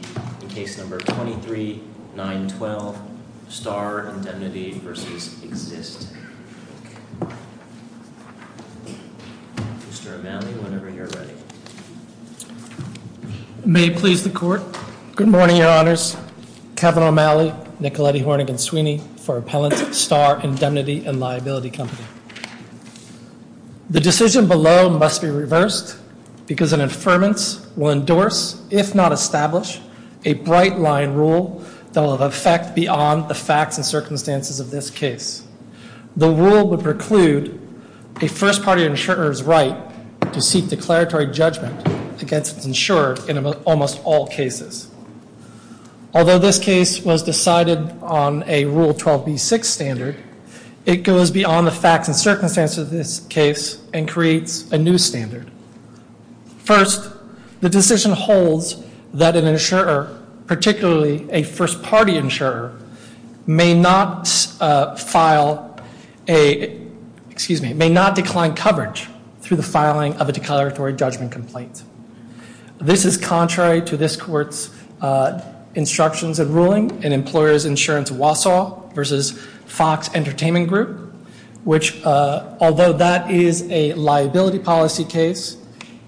23, 9, 12, Starr Indemnity v. Exist. Mr. O'Malley, whenever you're ready. May it please the court. Good morning, Your Honors. Kevin O'Malley, Nicoletti, Hornigan, Sweeney for Appellant Starr Indemnity & Liability Company. The decision below must be reversed because an affirmance will endorse, if not establish, a bright-line rule that will have effect beyond the facts and circumstances of this case. The rule would preclude a first-party insurer's right to seek declaratory judgment against its insurer in almost all cases. Although this case was decided on a Rule 12b-6 standard, it goes beyond the facts and circumstances of this case and creates a new standard. First, the decision holds that an insurer, particularly a first-party insurer, may not file a, excuse me, may not decline coverage through the filing of a declaratory judgment complaint. This is contrary to this court's instructions and ruling in Employers Insurance Wausau v. Fox Entertainment Group, which, although that is a liability policy case,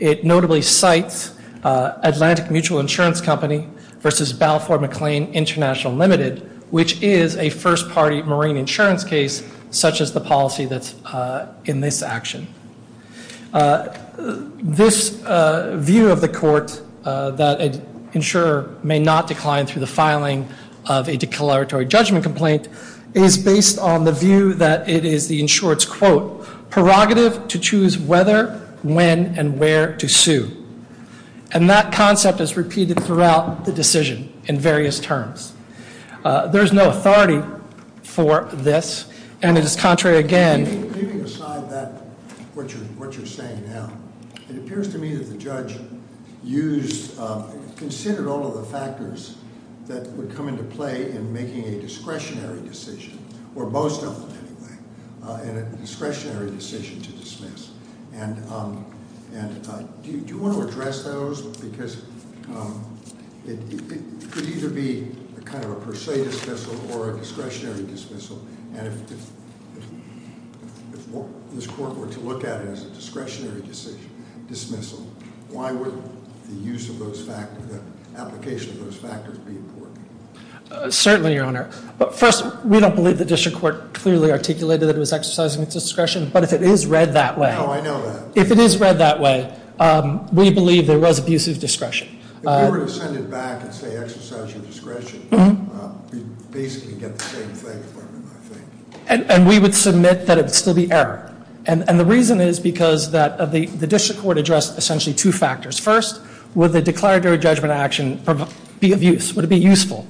it notably cites Atlantic Mutual Insurance Company v. Balfour McLean International Limited, which is a first-party marine insurance case such as the policy that's in this action. This view of the court that an insurer may not decline through the filing of a declaratory judgment complaint is based on the view that it is the insurer's quote, prerogative to choose whether, when, and where to sue. And that concept is repeated throughout the decision in various terms. There is no authority for this, and it is contrary again... Leaving aside that, what you're saying now, it appears to me that the judge used, considered all of the factors that would come into play in making a discretionary decision, or most of them, anyway, in a discretionary decision to dismiss. And do you want to address those? Because it could either be kind of a discretionary dismissal, and if this court were to look at it as a discretionary dismissal, why would the use of those factors, the application of those factors, be important? Certainly, Your Honor. But first, we don't believe the district court clearly articulated that it was exercising its discretion, but if it is read that way... No, I know that. If it is read that way, we believe there was abusive discretion. If we were to send it back and say, exercise your discretion, we'd basically get the same thing from it, I think. And we would submit that it would still be error. And the reason is because the district court addressed essentially two factors. First, would the declaratory judgment action be of use? Would it be useful?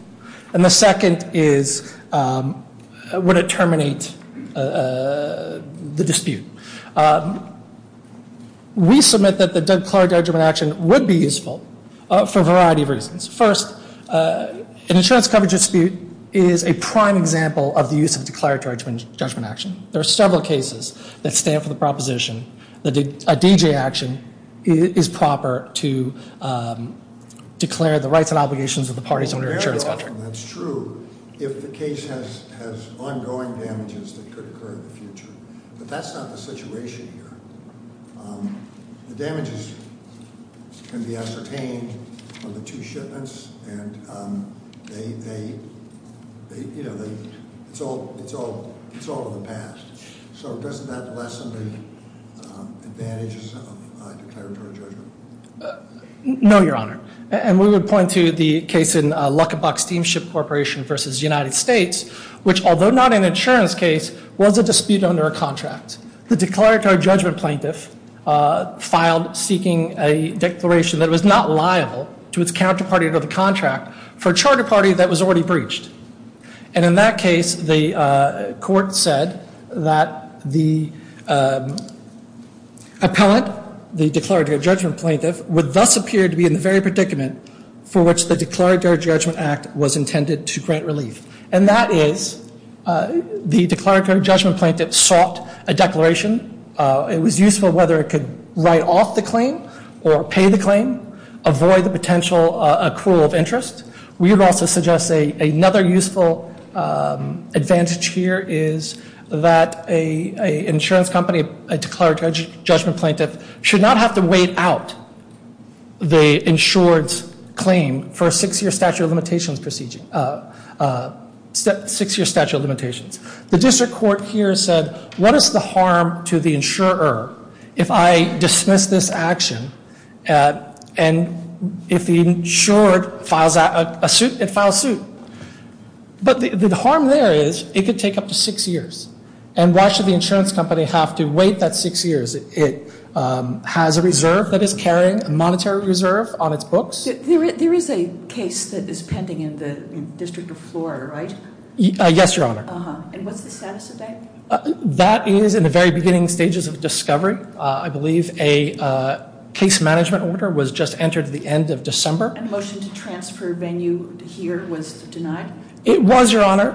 And the second is, would it terminate the dispute? We submit that the declaratory judgment action would be useful for a variety of reasons. First, an insurance coverage dispute is a prime example of the use of declaratory judgment action. There are several cases that stand for the proposition that a D.J. action is proper to declare the rights and obligations of the parties under an insurance contract. Very often, that's true, if the case has ongoing damages that could occur in the future. But that's not the situation here. The damages can be ascertained from the two shipments and it's all in the past. So doesn't that lessen the advantages of declaratory judgment? No, Your Honor. And we would point to the case in Luckenbach Steamship Corporation v. United States, which although not an insurance case, was a dispute under a contract. The declaratory judgment plaintiff filed seeking a declaration that was not liable to its counterparty under the contract for a charter party that was already breached. And in that case, the court said that the declaratory judgment act was intended to grant relief. And that is the declaratory judgment plaintiff sought a declaration. It was useful whether it could write off the claim or pay the claim, avoid the potential accrual of interest. We would also suggest another useful advantage here is that an insurance company, a declaratory judgment plaintiff, should not have to wait out the insured's claim for a six year statute of limitations procedure. Six year statute of limitations. The district court here said, what is the harm to the insurer if I dismiss this action and if the insured files a suit, it files suit. But the harm there is it could take up to six years. And why should the insurance company have to wait that six years? It has a reserve that is carrying, a monetary reserve on its books. There is a case that is pending in the District of Florida, right? Yes, Your Honor. And what's the status of that? That is in the very beginning stages of discovery. I believe a case management order was just entered at the end of December. And a motion to transfer venue here was denied? It was, Your Honor.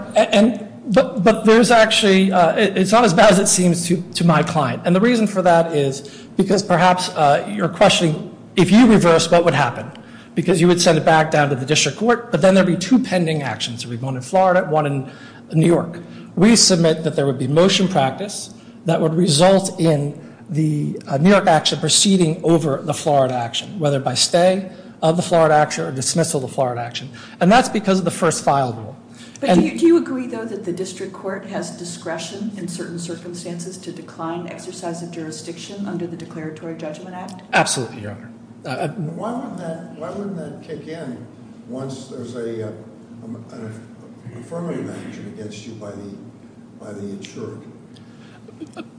But there's actually, it's not as bad as it seems to my client. And the reason for that is because perhaps you're questioning, if you reverse, what would happen? Because you would send it back down to the district court, but then there would be two pending actions. One in Florida, one in New York. We submit that there would be motion practice that would result in the New York action proceeding over the Florida action, whether by stay of the Florida action or dismissal of the Florida action. And that's because of the first file rule. Do you agree, though, that the district court has discretion in certain circumstances to decline exercise of jurisdiction under the Declaratory Judgment Act? Absolutely, Your Honor. Why wouldn't that kick in once there's a affirming action against you by the insurer?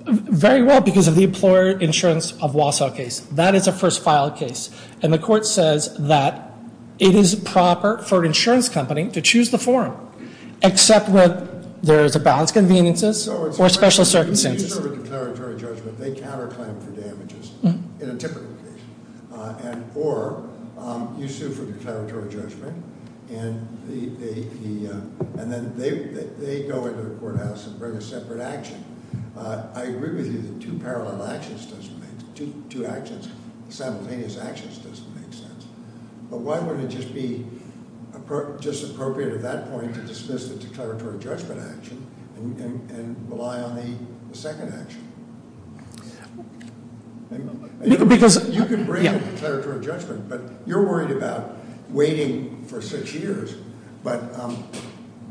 Very well, because of the employer insurance of Wausau case. That is a first file case. And the court says that it is proper for an insurance company to choose the form except when there is a balance of conveniences or special circumstances. No, it's when you serve a declaratory judgment, they counter-claim for damages in a typical case. Or you sue for declaratory judgment and then they go into the courthouse and bring a separate action. I agree with you that two parallel actions doesn't make sense. Two actions, simultaneous actions doesn't make sense. But why wouldn't it just be appropriate at that point to dismiss the declaratory judgment action and rely on the second action? You can bring a declaratory judgment, but you're worried about waiting for six years. But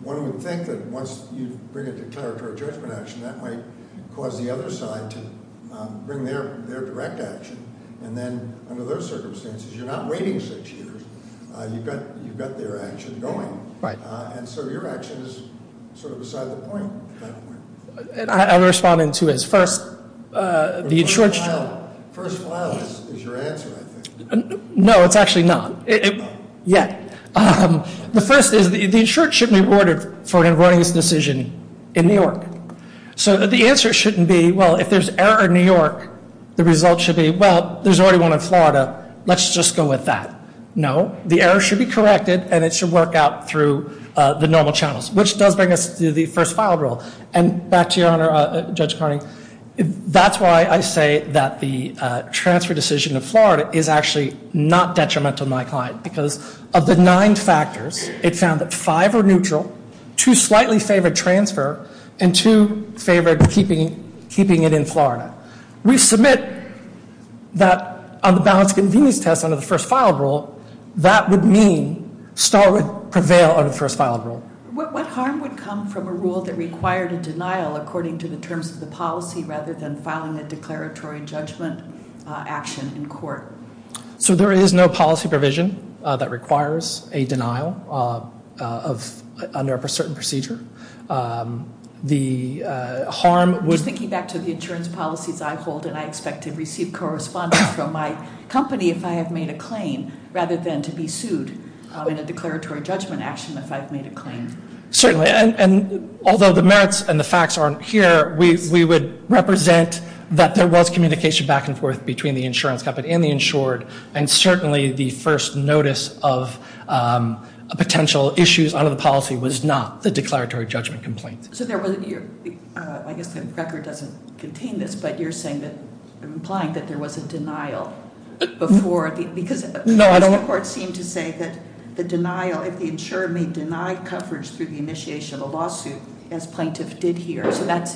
one would think that once you bring a declaratory judgment action, that might cause the other side to bring their direct action. And then under those circumstances, you're not waiting six years. You've got their action going. And so your action is sort of beside the point. I'll respond in two ways. First, the insurance... No, it's actually not. The first is the insurance should be awarded for an avoidance decision in New York. So the answer shouldn't be, well, if there's error in New York, the result should be, well, there's already one in Florida. Let's just go with that. No, the error should be corrected and it should work out through the normal channels, which does bring us to the first file rule. And back to you, Your Honor, Judge Carney, that's why I say that the transfer decision of Florida is actually not detrimental to my client. Because of the nine factors, it found that five are neutral, two slightly favored transfer, and two favored keeping it in Florida. We submit that on the balance of convenience test under the first file rule, that would mean Starwood prevail on the first file rule. What harm would come from a rule that required a denial according to the terms of the policy rather than filing a declaratory judgment action in court? So there is no policy provision that requires a denial under a certain procedure. Just thinking back to the insurance policies I hold and I expect to receive correspondence from my company if I have made a claim rather than to be sued in a declaratory judgment action if I've made a claim. Certainly. And although the merits and the facts aren't here, we would represent that there was communication back and forth between the insurance cupboard and the insured, and certainly the first notice of potential issues under the policy was not the declaratory judgment complaint. I guess the record doesn't contain this, but you're implying that there was a denial before, because the courts seem to say that the denial, if the insurer may deny coverage through the initiation of a lawsuit, as plaintiff did here, so that's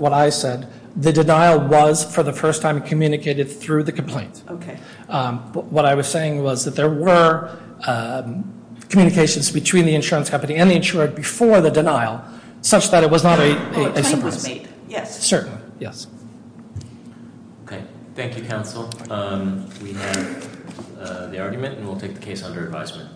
what I said, the denial was for the first time communicated through the complaint. What I was saying was that there were communications between the insurance company and the insured before the denial such that it was not a surprise. A claim was made, yes. Certainly. Thank you, counsel. We have the argument and we'll take the case under advisement.